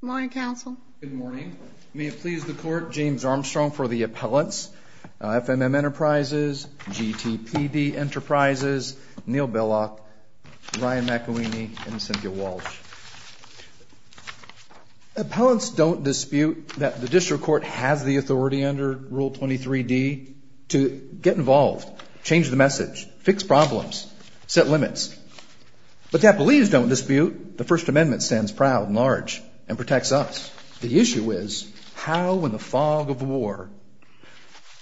Good morning, counsel. Good morning. May it please the court, James Armstrong for the appellants. FMM Enterprises, GTPD Enterprises, Neal Billock, Ryan McElweeny, and Cynthia Walsh. Appellants don't dispute that the district court has the authority under Rule 23D to get involved, change the message, fix problems, set limits. But the appellees don't dispute the First Amendment stands proud and large and protects us. The issue is how, in the fog of war,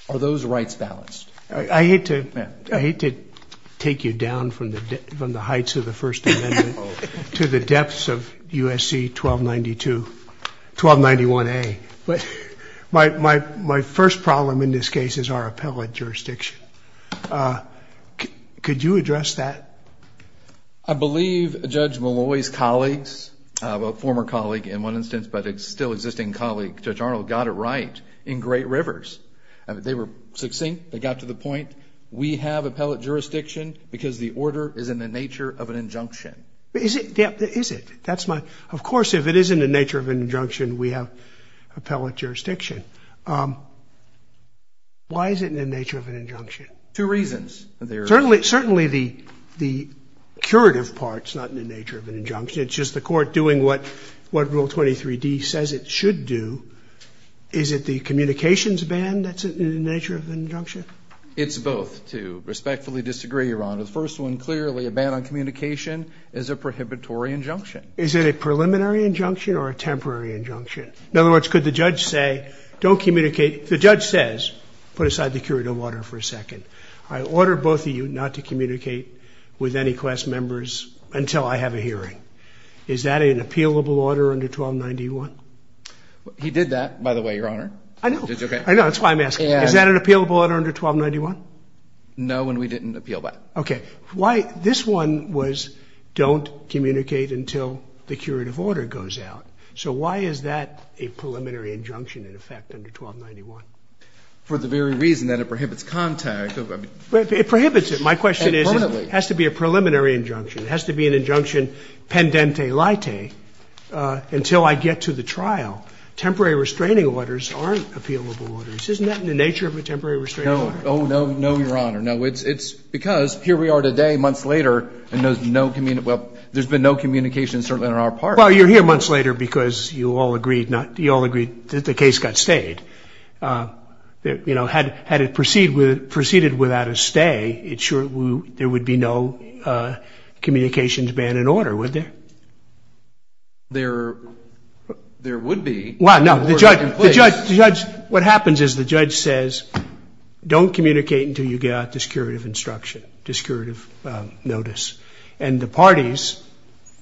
are those rights balanced? I hate to take you down from the heights of the First Amendment to the depths of USC 1292, 1291A. My first problem in this case is our appellate jurisdiction. Could you address that? I believe Judge Malloy's colleagues, a former colleague in one instance, but a still existing colleague, Judge Arnold, got it right in Great Rivers. They were succinct. They got to the point. We have appellate jurisdiction because the order is in the nature of an injunction. Is it? Is it? Of course, if it is in the nature of an injunction, we have appellate jurisdiction. Why is it in the nature of an injunction? Two reasons. Certainly the curative part is not in the nature of an injunction. It's just the court doing what Rule 23D says it should do. Is it the communications ban that's in the nature of an injunction? It's both, to respectfully disagree, Your Honor. The first one, clearly, a ban on communication is a prohibitory injunction. Is it a preliminary injunction or a temporary injunction? In other words, could the judge say, don't communicate. The judge says, put aside the curative order for a second. I order both of you not to communicate with any class members until I have a hearing. Is that an appealable order under 1291? He did that, by the way, Your Honor. I know. I know. That's why I'm asking. Is that an appealable order under 1291? No, and we didn't appeal that. Okay. Why this one was don't communicate until the curative order goes out. So why is that a preliminary injunction in effect under 1291? For the very reason that it prohibits contact. It prohibits it. My question is, it has to be a preliminary injunction. It has to be an injunction pendente lite until I get to the trial. Temporary restraining orders aren't appealable orders. Isn't that in the nature of a temporary restraining order? No, Your Honor. No, it's because here we are today, months later, and there's been no communication certainly on our part. Well, you're here months later because you all agreed that the case got stayed. Had it proceeded without a stay, there would be no communications ban in order, would there? There would be. The judge, what happens is the judge says, don't communicate until you get out this curative instruction, this curative notice. And the parties,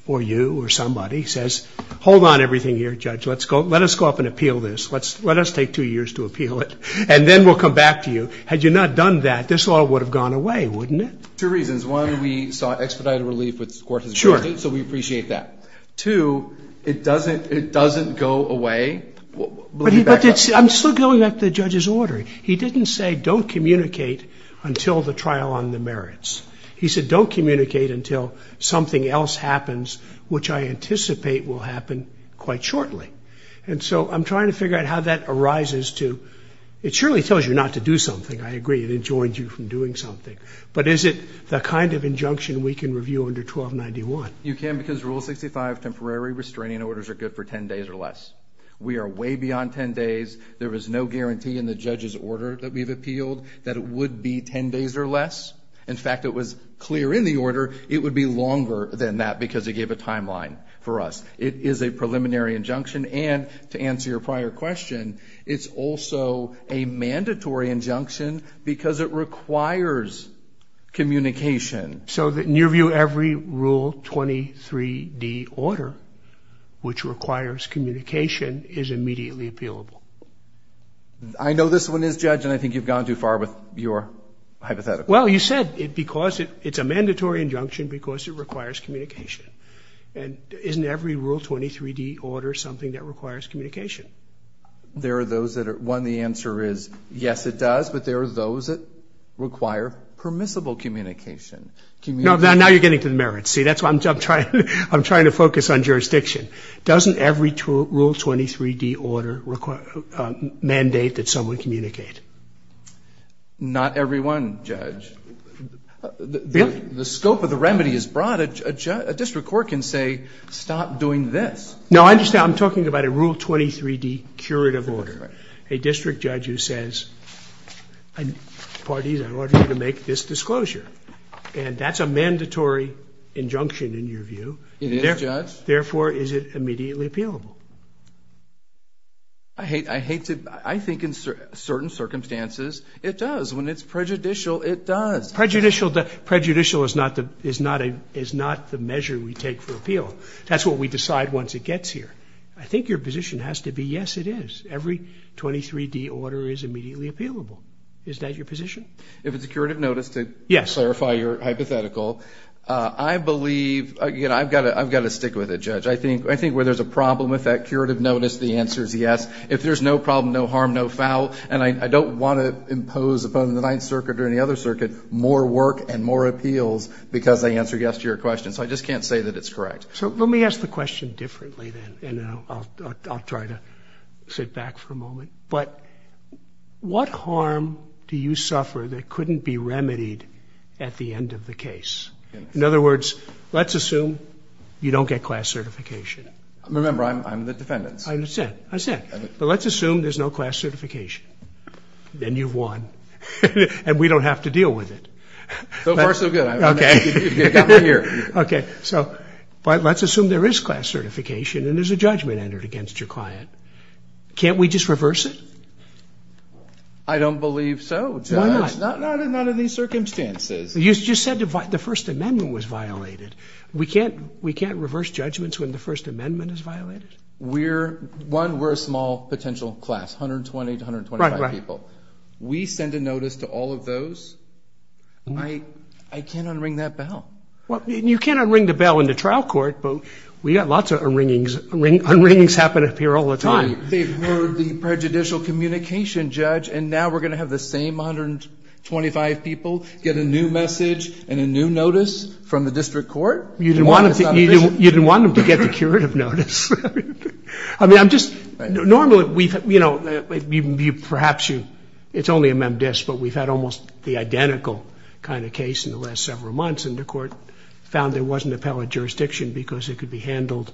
or you or somebody, says, hold on everything here, judge. Let us go up and appeal this. Let us take two years to appeal it, and then we'll come back to you. Had you not done that, this law would have gone away, wouldn't it? Two reasons. One, we saw expedited relief with Scorsese Court, so we appreciate that. Two, it doesn't go away. I'm still going back to the judge's order. He didn't say, don't communicate until the trial on the merits. He said, don't communicate until something else happens, which I anticipate will happen quite shortly. And so I'm trying to figure out how that arises to, it surely tells you not to do something. I agree, it enjoins you from doing something. But is it the kind of injunction we can review under 1291? You can because Rule 65 temporary restraining orders are good for 10 days or less. We are way beyond 10 days. There is no guarantee in the judge's order that we've appealed that it would be 10 days or less. In fact, it was clear in the order it would be longer than that because it gave a timeline for us. It is a preliminary injunction. And to answer your prior question, it's also a mandatory injunction because it requires communication. So in your view, every Rule 23d order which requires communication is immediately appealable? I know this one is, Judge, and I think you've gone too far with your hypothetical. Well, you said it's a mandatory injunction because it requires communication. And isn't every Rule 23d order something that requires communication? One, the answer is yes, it does, but there are those that require permissible communication. Now you're getting to the merits. See, that's why I'm trying to focus on jurisdiction. Doesn't every Rule 23d order mandate that someone communicate? Not every one, Judge. Really? The scope of the remedy is broad. A district court can say stop doing this. No, I understand. I'm talking about a Rule 23d curative order. A district judge who says parties are ordered to make this disclosure. And that's a mandatory injunction in your view. It is, Judge. Therefore, is it immediately appealable? I hate to – I think in certain circumstances it does. When it's prejudicial, it does. Prejudicial is not the measure we take for appeal. That's what we decide once it gets here. I think your position has to be yes, it is. Every 23d order is immediately appealable. Is that your position? If it's a curative notice, to clarify your hypothetical, I believe – I've got to stick with it, Judge. I think where there's a problem with that curative notice, the answer is yes. If there's no problem, no harm, no foul, and I don't want to impose upon the Ninth Circuit or any other circuit more work and more appeals because I answered yes to your question, so I just can't say that it's correct. So let me ask the question differently then, and then I'll try to sit back for a moment. But what harm do you suffer that couldn't be remedied at the end of the case? In other words, let's assume you don't get class certification. Remember, I'm the defendant. I understand. I understand. But let's assume there's no class certification. Then you've won, and we don't have to deal with it. So far, so good. Okay. You've got my ear. Okay. So let's assume there is class certification, and there's a judgment entered against your client. Can't we just reverse it? I don't believe so, Judge. Why not? Not in these circumstances. You just said the First Amendment was violated. We can't reverse judgments when the First Amendment is violated? One, we're a small potential class, 120 to 125 people. We send a notice to all of those, I can't unring that bell. Well, you can't unring the bell in the trial court, but we've got lots of unringings. Unringings happen up here all the time. They've heard the prejudicial communication, Judge, and now we're going to have the same 125 people get a new message and a new notice from the district court? You didn't want them to get the curative notice. I mean, I'm just normally, you know, perhaps it's only a memdisc, but we've had almost the identical kind of case in the last several months, and the court found there wasn't appellate jurisdiction because it could be handled.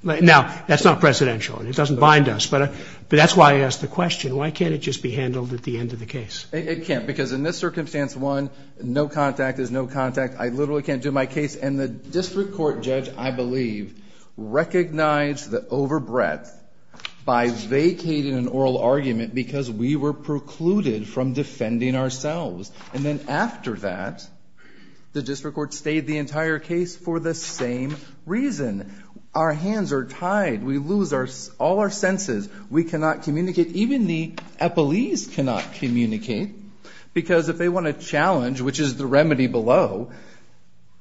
Now, that's not presidential, and it doesn't bind us, but that's why I asked the question. Why can't it just be handled at the end of the case? It can't, because in this circumstance, one, no contact is no contact. I literally can't do my case, and the district court, Judge, I believe, recognized the overbreadth by vacating an oral argument because we were precluded from defending ourselves. And then after that, the district court stayed the entire case for the same reason. Our hands are tied. We lose all our senses. We cannot communicate. Even the appellees cannot communicate because if they want to challenge, which is the remedy below,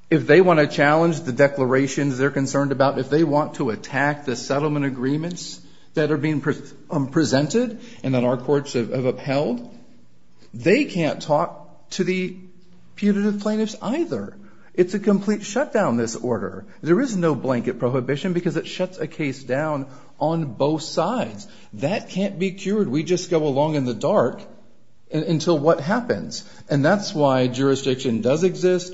if they want to challenge the declarations they're concerned about, if they want to attack the settlement agreements that are being presented and that our courts have upheld, they can't talk to the punitive plaintiffs either. It's a complete shutdown, this order. There is no blanket prohibition because it shuts a case down on both sides. That can't be cured. We just go along in the dark until what happens. And that's why jurisdiction does exist.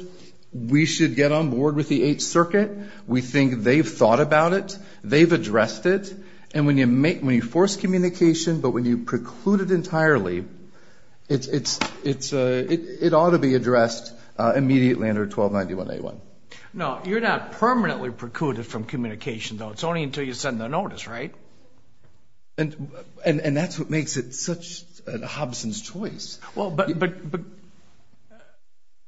We should get on board with the Eighth Circuit. We think they've thought about it. They've addressed it. And when you force communication but when you preclude it entirely, it ought to be addressed immediately under 1291A1. No, you're not permanently precluded from communication, though. It's only until you send the notice, right? And that's what makes it such a Hobson's choice. Well,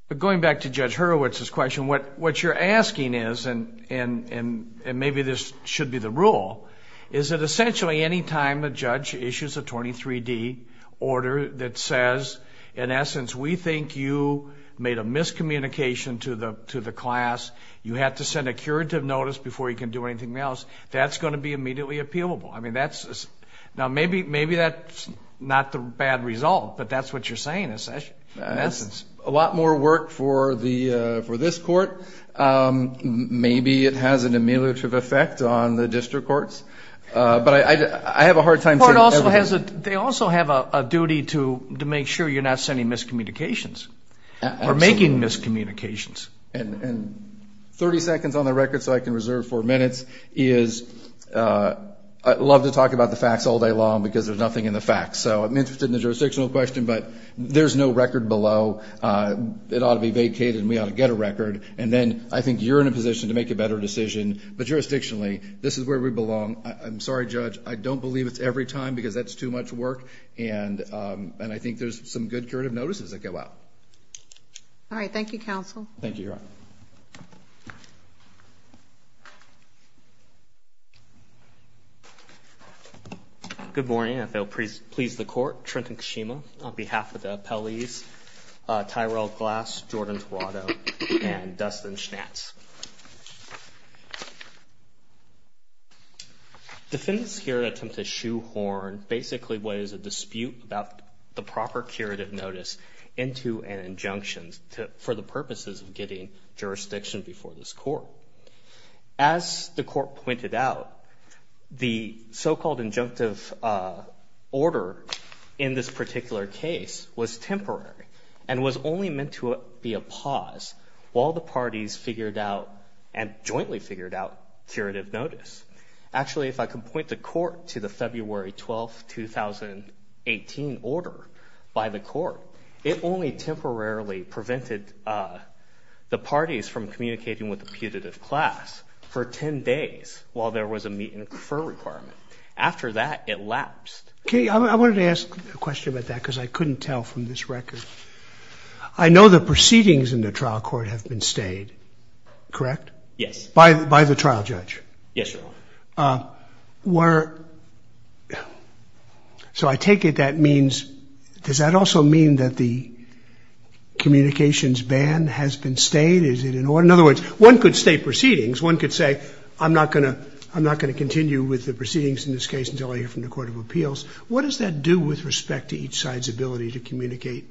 but going back to Judge Hurwitz's question, what you're asking is, and maybe this should be the rule, is that essentially any time a judge issues a 23D order that says, in essence, we think you made a miscommunication to the class, you have to send a curative notice before you can do anything else, that's going to be immediately appealable. Now, maybe that's not the bad result, but that's what you're saying, in essence. It's a lot more work for this court. Maybe it has an ameliorative effect on the district courts, but I have a hard time saying everything. They also have a duty to make sure you're not sending miscommunications or making miscommunications. And 30 seconds on the record, so I can reserve four minutes, is I love to talk about the facts all day long because there's nothing in the facts. So I'm interested in the jurisdictional question, but there's no record below. It ought to be vacated and we ought to get a record, and then I think you're in a position to make a better decision. But jurisdictionally, this is where we belong. I'm sorry, Judge, I don't believe it's every time because that's too much work, and I think there's some good curative notices that go out. All right, thank you, counsel. Thank you, Your Honor. Good morning. If it will please the court, Trenton Kishima on behalf of the appellees, Tyrell Glass, Jordan Torado, and Dustin Schnatz. Defendants here attempt to shoehorn basically what is a dispute about the proper curative notice into an injunction for the purposes of getting jurisdiction before this court. As the court pointed out, the so-called injunctive order in this particular case was temporary and was only meant to be a pause while the parties figured out and jointly figured out curative notice. Actually, if I could point the court to the February 12, 2018, order by the court, it only temporarily prevented the parties from communicating with the putative class for 10 days while there was a meet-and-refer requirement. After that, it lapsed. I wanted to ask a question about that because I couldn't tell from this record. I know the proceedings in the trial court have been stayed, correct? Yes. By the trial judge? Yes, Your Honor. So I take it that means, does that also mean that the communications ban has been stayed? In other words, one could state proceedings. One could say, I'm not going to continue with the proceedings in this case until I hear from the Court of Appeals. What does that do with respect to each side's ability to communicate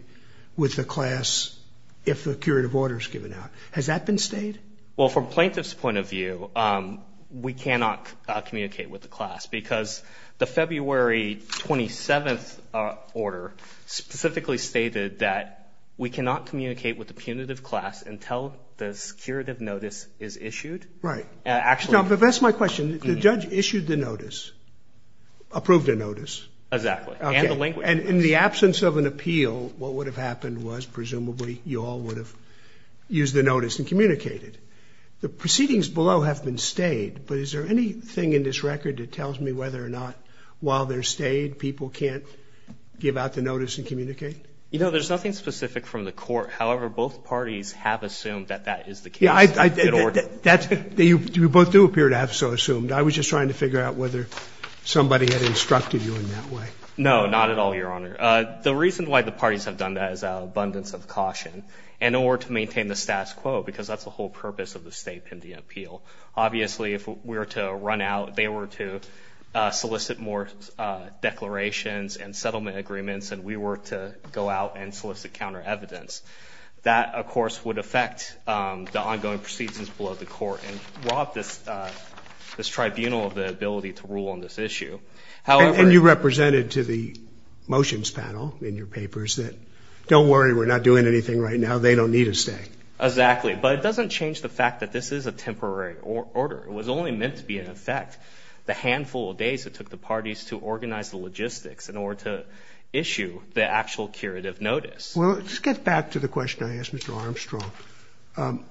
with the class if the curative order is given out? Has that been stayed? Well, from plaintiff's point of view, we cannot communicate with the class because the February 27th order specifically stated that we cannot communicate with the punitive class until the curative notice is issued. Right. Now, if that's my question, the judge issued the notice, approved the notice. Exactly. And in the absence of an appeal, what would have happened was presumably you all would have used the notice and communicated. The proceedings below have been stayed, but is there anything in this record that tells me whether or not while they're stayed people can't give out the notice and communicate? You know, there's nothing specific from the court. However, both parties have assumed that that is the case. You both do appear to have so assumed. I was just trying to figure out whether somebody had instructed you in that way. No, not at all, Your Honor. The reason why the parties have done that is out of abundance of caution and in order to maintain the status quo because that's the whole purpose of the state pending appeal. Obviously, if we were to run out, they were to solicit more declarations and settlement agreements, and we were to go out and solicit counter evidence. That, of course, would affect the ongoing proceedings below the court and rob this tribunal of the ability to rule on this issue. And you represented to the motions panel in your papers that don't worry, we're not doing anything right now, they don't need to stay. Exactly. But it doesn't change the fact that this is a temporary order. It was only meant to be in effect the handful of days it took the parties to organize the logistics in order to issue the actual curative notice. Well, let's get back to the question I asked Mr. Armstrong.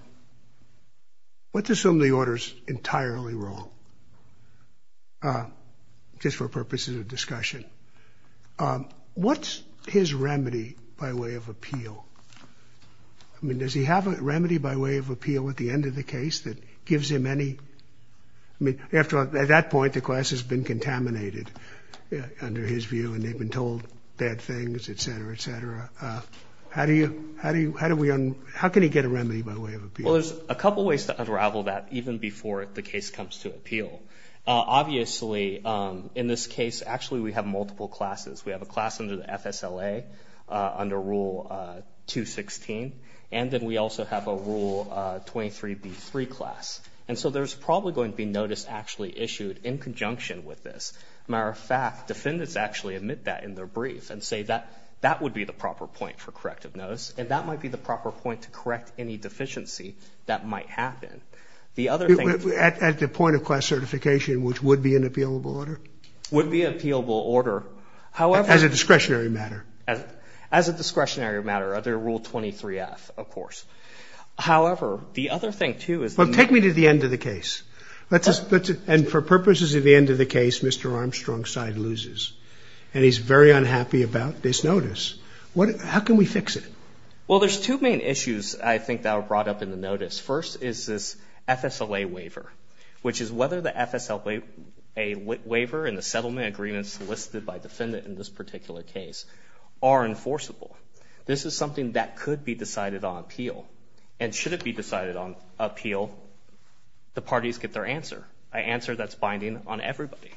Let's assume the order's entirely wrong, just for purposes of discussion. What's his remedy by way of appeal? I mean, does he have a remedy by way of appeal at the end of the case that gives him any? I mean, after all, at that point, the class has been contaminated under his view, and they've been told bad things, et cetera, et cetera. How can he get a remedy by way of appeal? Well, there's a couple ways to unravel that even before the case comes to appeal. Obviously, in this case, actually, we have multiple classes. We have a class under the FSLA under Rule 216, and then we also have a Rule 23B3 class. And so there's probably going to be notice actually issued in conjunction with this. As a matter of fact, defendants actually admit that in their brief and say that that would be the proper point for corrective notice, and that might be the proper point to correct any deficiency that might happen. At the point of class certification, which would be an appealable order? Would be an appealable order, however— As a discretionary matter. As a discretionary matter under Rule 23F, of course. However, the other thing, too, is— Well, take me to the end of the case. And for purposes of the end of the case, Mr. Armstrong's side loses, and he's very unhappy about this notice. How can we fix it? Well, there's two main issues I think that were brought up in the notice. First is this FSLA waiver, which is whether the FSLA waiver and the settlement agreements listed by defendant in this particular case are enforceable. This is something that could be decided on appeal. And should it be decided on appeal, the parties get their answer, an answer that's binding on everybody.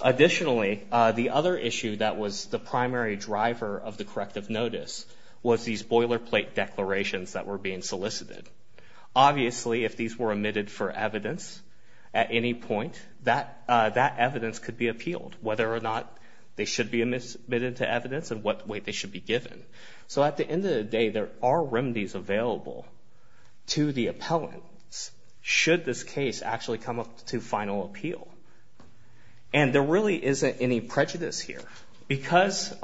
Additionally, the other issue that was the primary driver of the corrective notice was these boilerplate declarations that were being solicited. Obviously, if these were admitted for evidence at any point, that evidence could be appealed, whether or not they should be admitted to evidence and what weight they should be given. So at the end of the day, there are remedies available to the appellants should this case actually come up to final appeal. And there really isn't any prejudice here because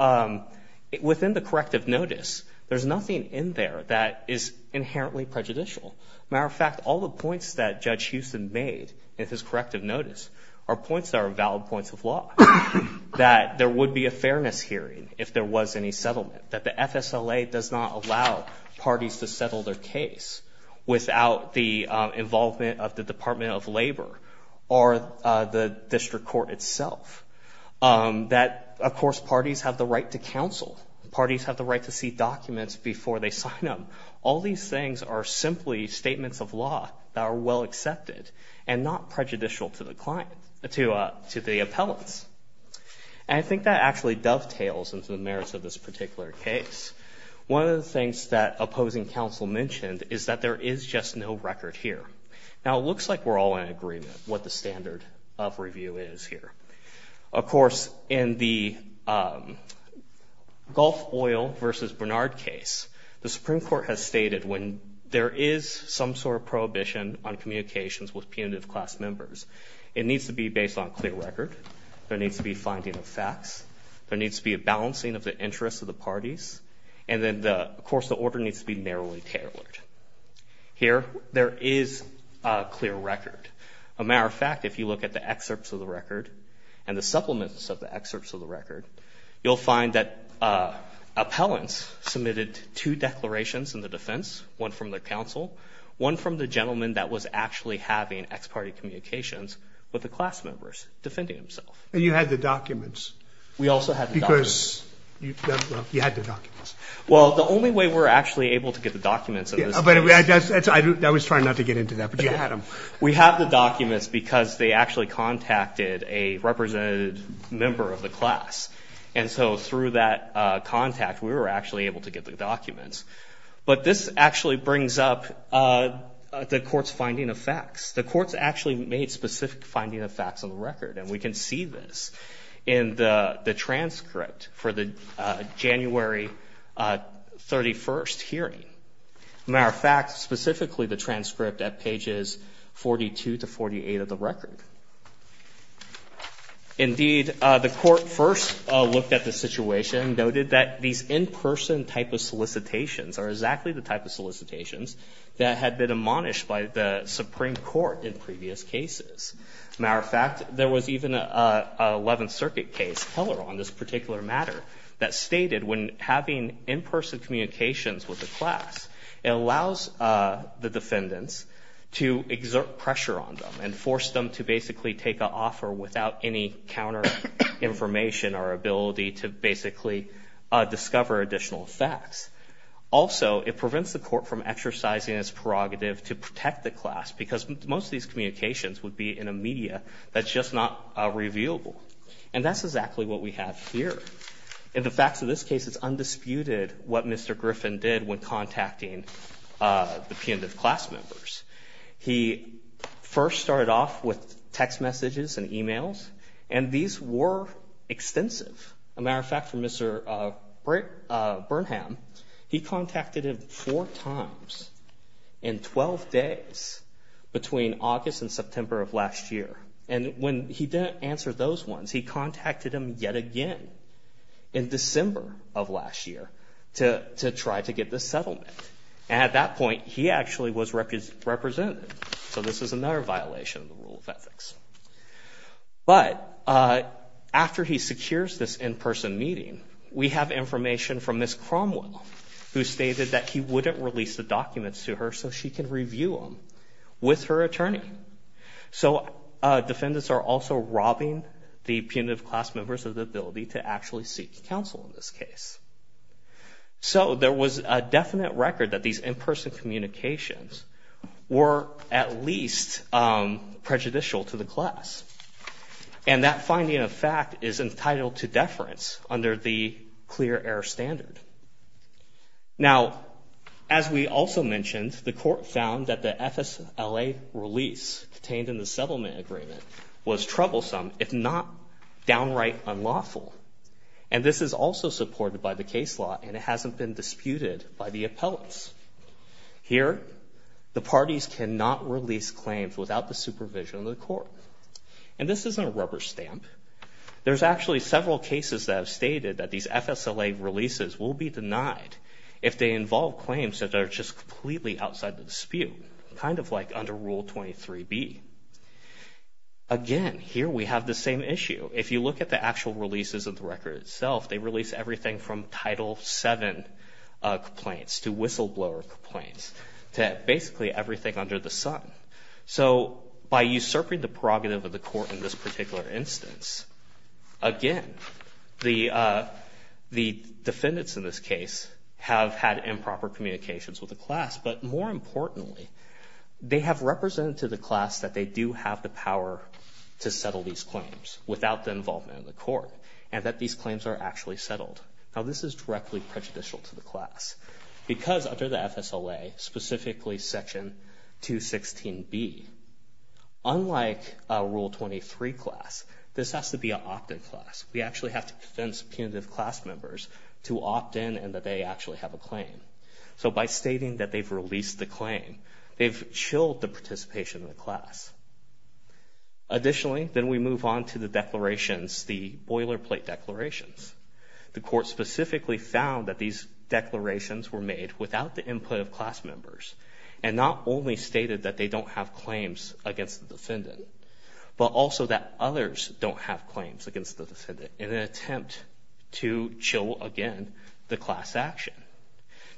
within the corrective notice, there's nothing in there that is inherently prejudicial. Matter of fact, all the points that Judge Houston made in his corrective notice are points that are valid points of law. That there would be a fairness hearing if there was any settlement. That the FSLA does not allow parties to settle their case without the involvement of the Department of Labor or the district court itself. That, of course, parties have the right to counsel. Parties have the right to see documents before they sign them. All these things are simply statements of law that are well accepted and not prejudicial to the client, to the appellants. And I think that actually dovetails into the merits of this particular case. One of the things that opposing counsel mentioned is that there is just no record here. Now, it looks like we're all in agreement what the standard of review is here. Of course, in the Gulf Oil versus Bernard case, the Supreme Court has stated when there is some sort of prohibition on communications with punitive class members, it needs to be based on clear record. There needs to be finding of facts. There needs to be a balancing of the interests of the parties. And then, of course, the order needs to be narrowly tailored. Here, there is a clear record. As a matter of fact, if you look at the excerpts of the record and the supplements of the excerpts of the record, you'll find that appellants submitted two declarations in the defense, one from the counsel, one from the gentleman that was actually having ex parte communications with the class members defending himself. And you had the documents. We also had the documents. Because you had the documents. Well, the only way we're actually able to get the documents in this case. I was trying not to get into that, but you had them. We have the documents because they actually contacted a representative member of the class. And so through that contact, we were actually able to get the documents. But this actually brings up the court's finding of facts. The court's actually made specific finding of facts on the record. And we can see this in the transcript for the January 31st hearing. As a matter of fact, specifically the transcript at pages 42 to 48 of the record. Indeed, the court first looked at the situation and noted that these in-person type of solicitations are exactly the type of solicitations that had been admonished by the Supreme Court in previous cases. As a matter of fact, there was even an 11th Circuit case on this particular matter that stated when having in-person communications with the class, it allows the defendants to exert pressure on them and force them to basically take an offer without any counter-information or ability to basically discover additional facts. Also, it prevents the court from exercising its prerogative to protect the class because most of these communications would be in a media that's just not revealable. And that's exactly what we have here. In the facts of this case, it's undisputed what Mr. Griffin did when contacting the pundit class members. He first started off with text messages and emails, and these were extensive. As a matter of fact, for Mr. Burnham, he contacted him four times in 12 days between August and September of last year. And when he didn't answer those ones, he contacted him yet again in December of last year to try to get the settlement. And at that point, he actually was represented. So this is another violation of the rule of ethics. But after he secures this in-person meeting, we have information from Ms. Cromwell who stated that he wouldn't release the documents to her so she can review them with her attorney. So defendants are also robbing the pundit class members of the ability to actually seek counsel in this case. So there was a definite record that these in-person communications were at least prejudicial to the class. And that finding of fact is entitled to deference under the clear error standard. Now, as we also mentioned, the court found that the FSLA release contained in the settlement agreement was troublesome, if not downright unlawful. And this is also supported by the case law, and it hasn't been disputed by the appellants. Here, the parties cannot release claims without the supervision of the court. And this isn't a rubber stamp. There's actually several cases that have stated that these FSLA releases will be denied if they involve claims that are just completely outside the dispute, kind of like under Rule 23B. Again, here we have the same issue. If you look at the actual releases of the record itself, they release everything from Title VII complaints to whistleblower complaints to basically everything under the sun. So by usurping the prerogative of the court in this particular instance, again, the defendants in this case have had improper communications with the class. But more importantly, they have represented to the class that they do have the power to settle these claims without the involvement of the court and that these claims are actually settled. Now, this is directly prejudicial to the class because under the FSLA, specifically Section 216B, unlike a Rule 23 class, this has to be an opted class. We actually have to convince punitive class members to opt in and that they actually have a claim. So by stating that they've released the claim, they've chilled the participation of the class. Additionally, then we move on to the declarations, the boilerplate declarations. The court specifically found that these declarations were made without the input of class members and not only stated that they don't have claims against the defendant, but also that others don't have claims against the defendant in an attempt to chill again the class action.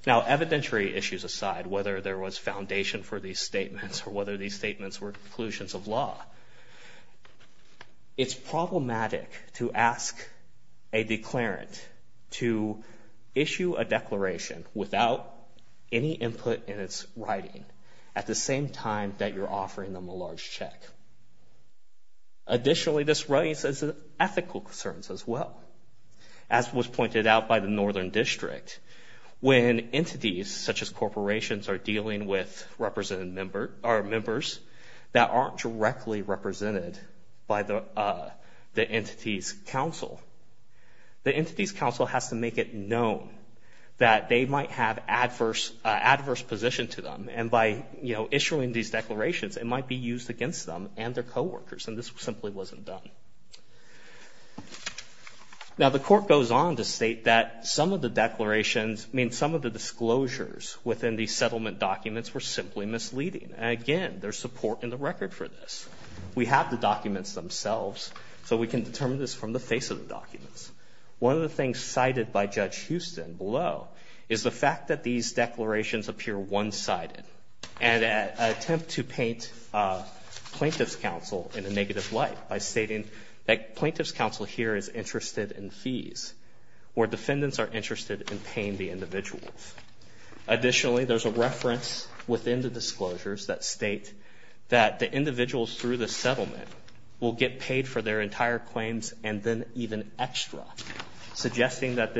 Now, evidentiary issues aside, whether there was foundation for these statements or whether these statements were conclusions of law, it's problematic to ask a declarant to issue a declaration without any input in its writing at the same time that you're offering them a large check. Additionally, this raises ethical concerns as well. As was pointed out by the Northern District, when entities such as corporations are dealing with members that aren't directly represented by the entity's counsel, the entity's counsel has to make it known that they might have adverse position to them. And by issuing these declarations, it might be used against them and their coworkers. And this simply wasn't done. Now, the court goes on to state that some of the declarations, I mean some of the disclosures within the settlement documents were simply misleading. And again, there's support in the record for this. We have the documents themselves, so we can determine this from the face of the documents. One of the things cited by Judge Houston below is the fact that these declarations appear one-sided and attempt to paint plaintiff's counsel in a negative light by stating that plaintiff's counsel here is interested in fees, where defendants are interested in paying the individuals. Additionally, there's a reference within the disclosures that state that the individuals through the settlement will get paid for their entire claims and then even extra, suggesting that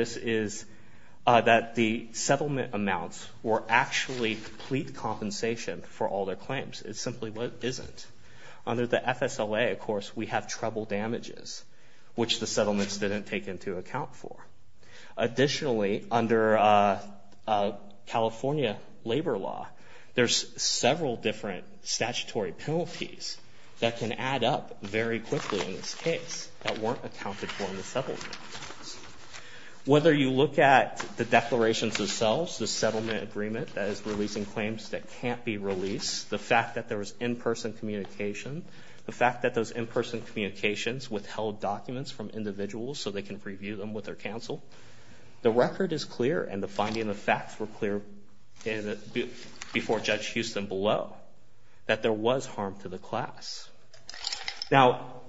the settlement amounts were actually complete compensation for all their claims. It simply isn't. Under the FSLA, of course, we have trouble damages, which the settlements didn't take into account for. Additionally, under California labor law, there's several different statutory penalties that can add up very quickly in this case that weren't accounted for in the settlement. Whether you look at the declarations themselves, the settlement agreement that is releasing claims that can't be released, the fact that there was in-person communication, the fact that those in-person communications withheld documents from individuals so they can review them with their counsel, the record is clear and the finding of the facts were clear before Judge Houston below that there was harm to the class. Now,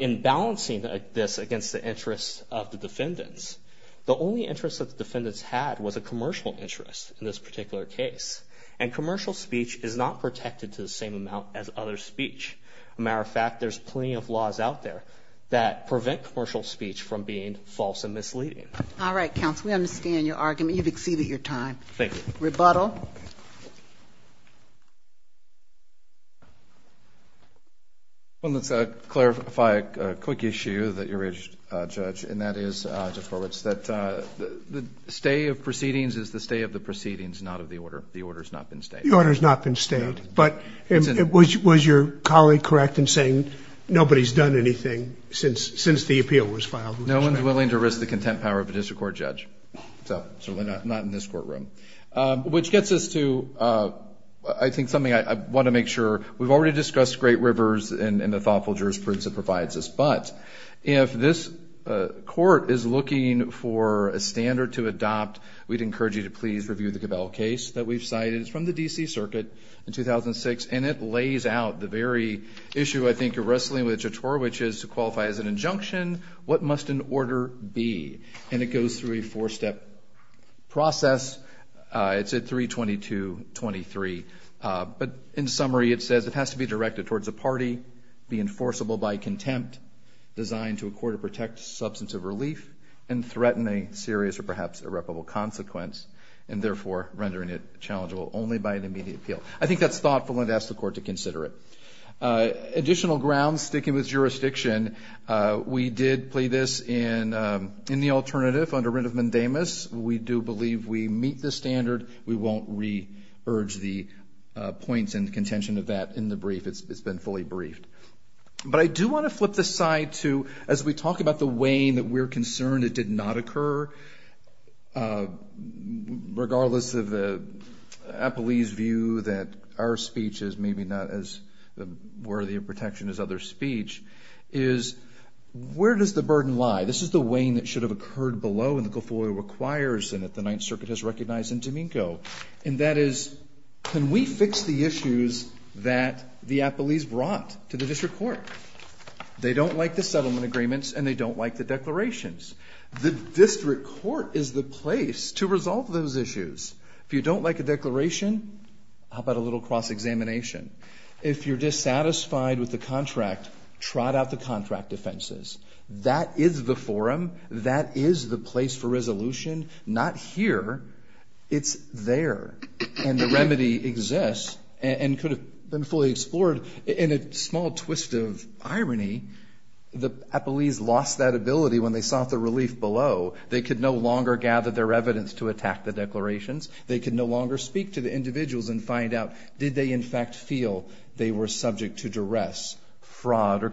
in balancing this against the interests of the defendants, the only interest that the defendants had was a commercial interest in this particular case. And commercial speech is not protected to the same amount as other speech. Matter of fact, there's plenty of laws out there that prevent commercial speech from being false and misleading. All right, counsel. We understand your argument. You've exceeded your time. Thank you. Rebuttal. Well, let's clarify a quick issue that you raised, Judge, and that is that the stay of proceedings is the stay of the proceedings, not of the order. The order has not been stayed. The order has not been stayed. But was your colleague correct in saying nobody has done anything since the appeal was filed? No one is willing to risk the content power of a district court judge, so certainly not in this courtroom. Which gets us to, I think, something I want to make sure. We've already discussed Great Rivers and the thoughtful jurisprudence it provides us, but if this court is looking for a standard to adopt, we'd encourage you to please review the Cabell case that we've cited. It's from the D.C. Circuit in 2006, and it lays out the very issue, I think, of wrestling with Chautaur, which is to qualify as an injunction. What must an order be? And it goes through a four-step process. It's at 322.23. But in summary, it says it has to be directed towards a party, be enforceable by contempt, designed to a court to protect substance of relief, and threaten a serious or perhaps irreparable consequence, and therefore rendering it challengeable only by an immediate appeal. I think that's thoughtful, and I'd ask the court to consider it. Additional grounds, sticking with jurisdiction, we did play this in the alternative, under writ of mandamus. We do believe we meet the standard. We won't re-urge the points and contention of that in the brief. It's been fully briefed. But I do want to flip the slide to, as we talk about the weighing that we're concerned it did not occur, regardless of Apolli's view that our speech is maybe not as worthy of protection as other's speech, is where does the burden lie? This is the weighing that should have occurred below, and that the Ninth Circuit has recognized in Domenico. And that is, can we fix the issues that the Apollis brought to the district court? They don't like the settlement agreements, and they don't like the declarations. The district court is the place to resolve those issues. If you don't like a declaration, how about a little cross-examination? If you're dissatisfied with the contract, trot out the contract offenses. That is the forum. That is the place for resolution. Not here. It's there. And the remedy exists and could have been fully explored in a small twist of irony. The Apollis lost that ability when they sought the relief below. They could no longer gather their evidence to attack the declarations. They could no longer speak to the individuals and find out, did they, in fact, feel they were subject to duress, fraud, or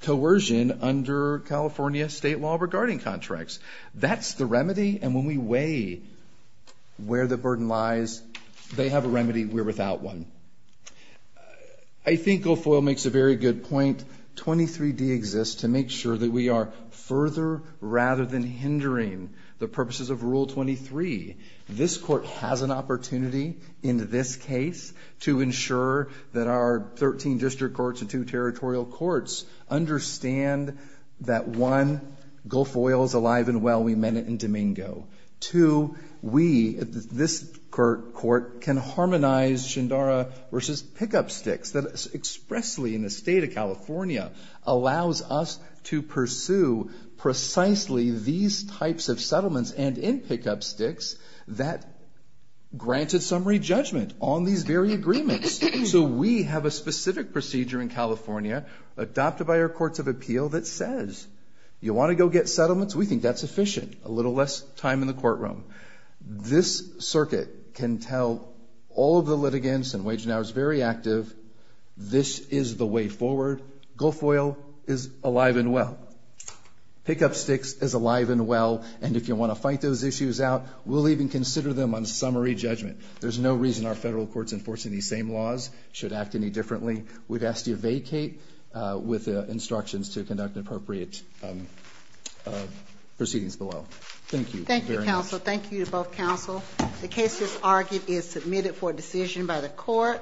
coercion under California state law regarding contracts? That's the remedy. And when we weigh where the burden lies, they have a remedy. We're without one. I think Gulfoil makes a very good point. 23D exists to make sure that we are further, rather than hindering, the purposes of Rule 23. This court has an opportunity in this case to ensure that our 13 district courts and two territorial courts understand that, one, Gulfoil is alive and well. We met it in Domingo. Two, we, this court, can harmonize Shandara v. Pickup Sticks, that expressly in the state of California, allows us to pursue precisely these types of settlements and in Pickup Sticks that granted summary judgment on these very agreements. So we have a specific procedure in California adopted by our courts of appeal that says you want to go get settlements, we think that's efficient, a little less time in the courtroom. This circuit can tell all of the litigants and Wage and Hour is very active, this is the way forward. Gulfoil is alive and well. Pickup Sticks is alive and well. And if you want to fight those issues out, we'll even consider them on summary judgment. There's no reason our federal courts enforcing these same laws should act any differently. We've asked you to vacate with instructions to conduct appropriate proceedings below. Thank you. Thank you, counsel. The case, as argued, is submitted for decision by the court.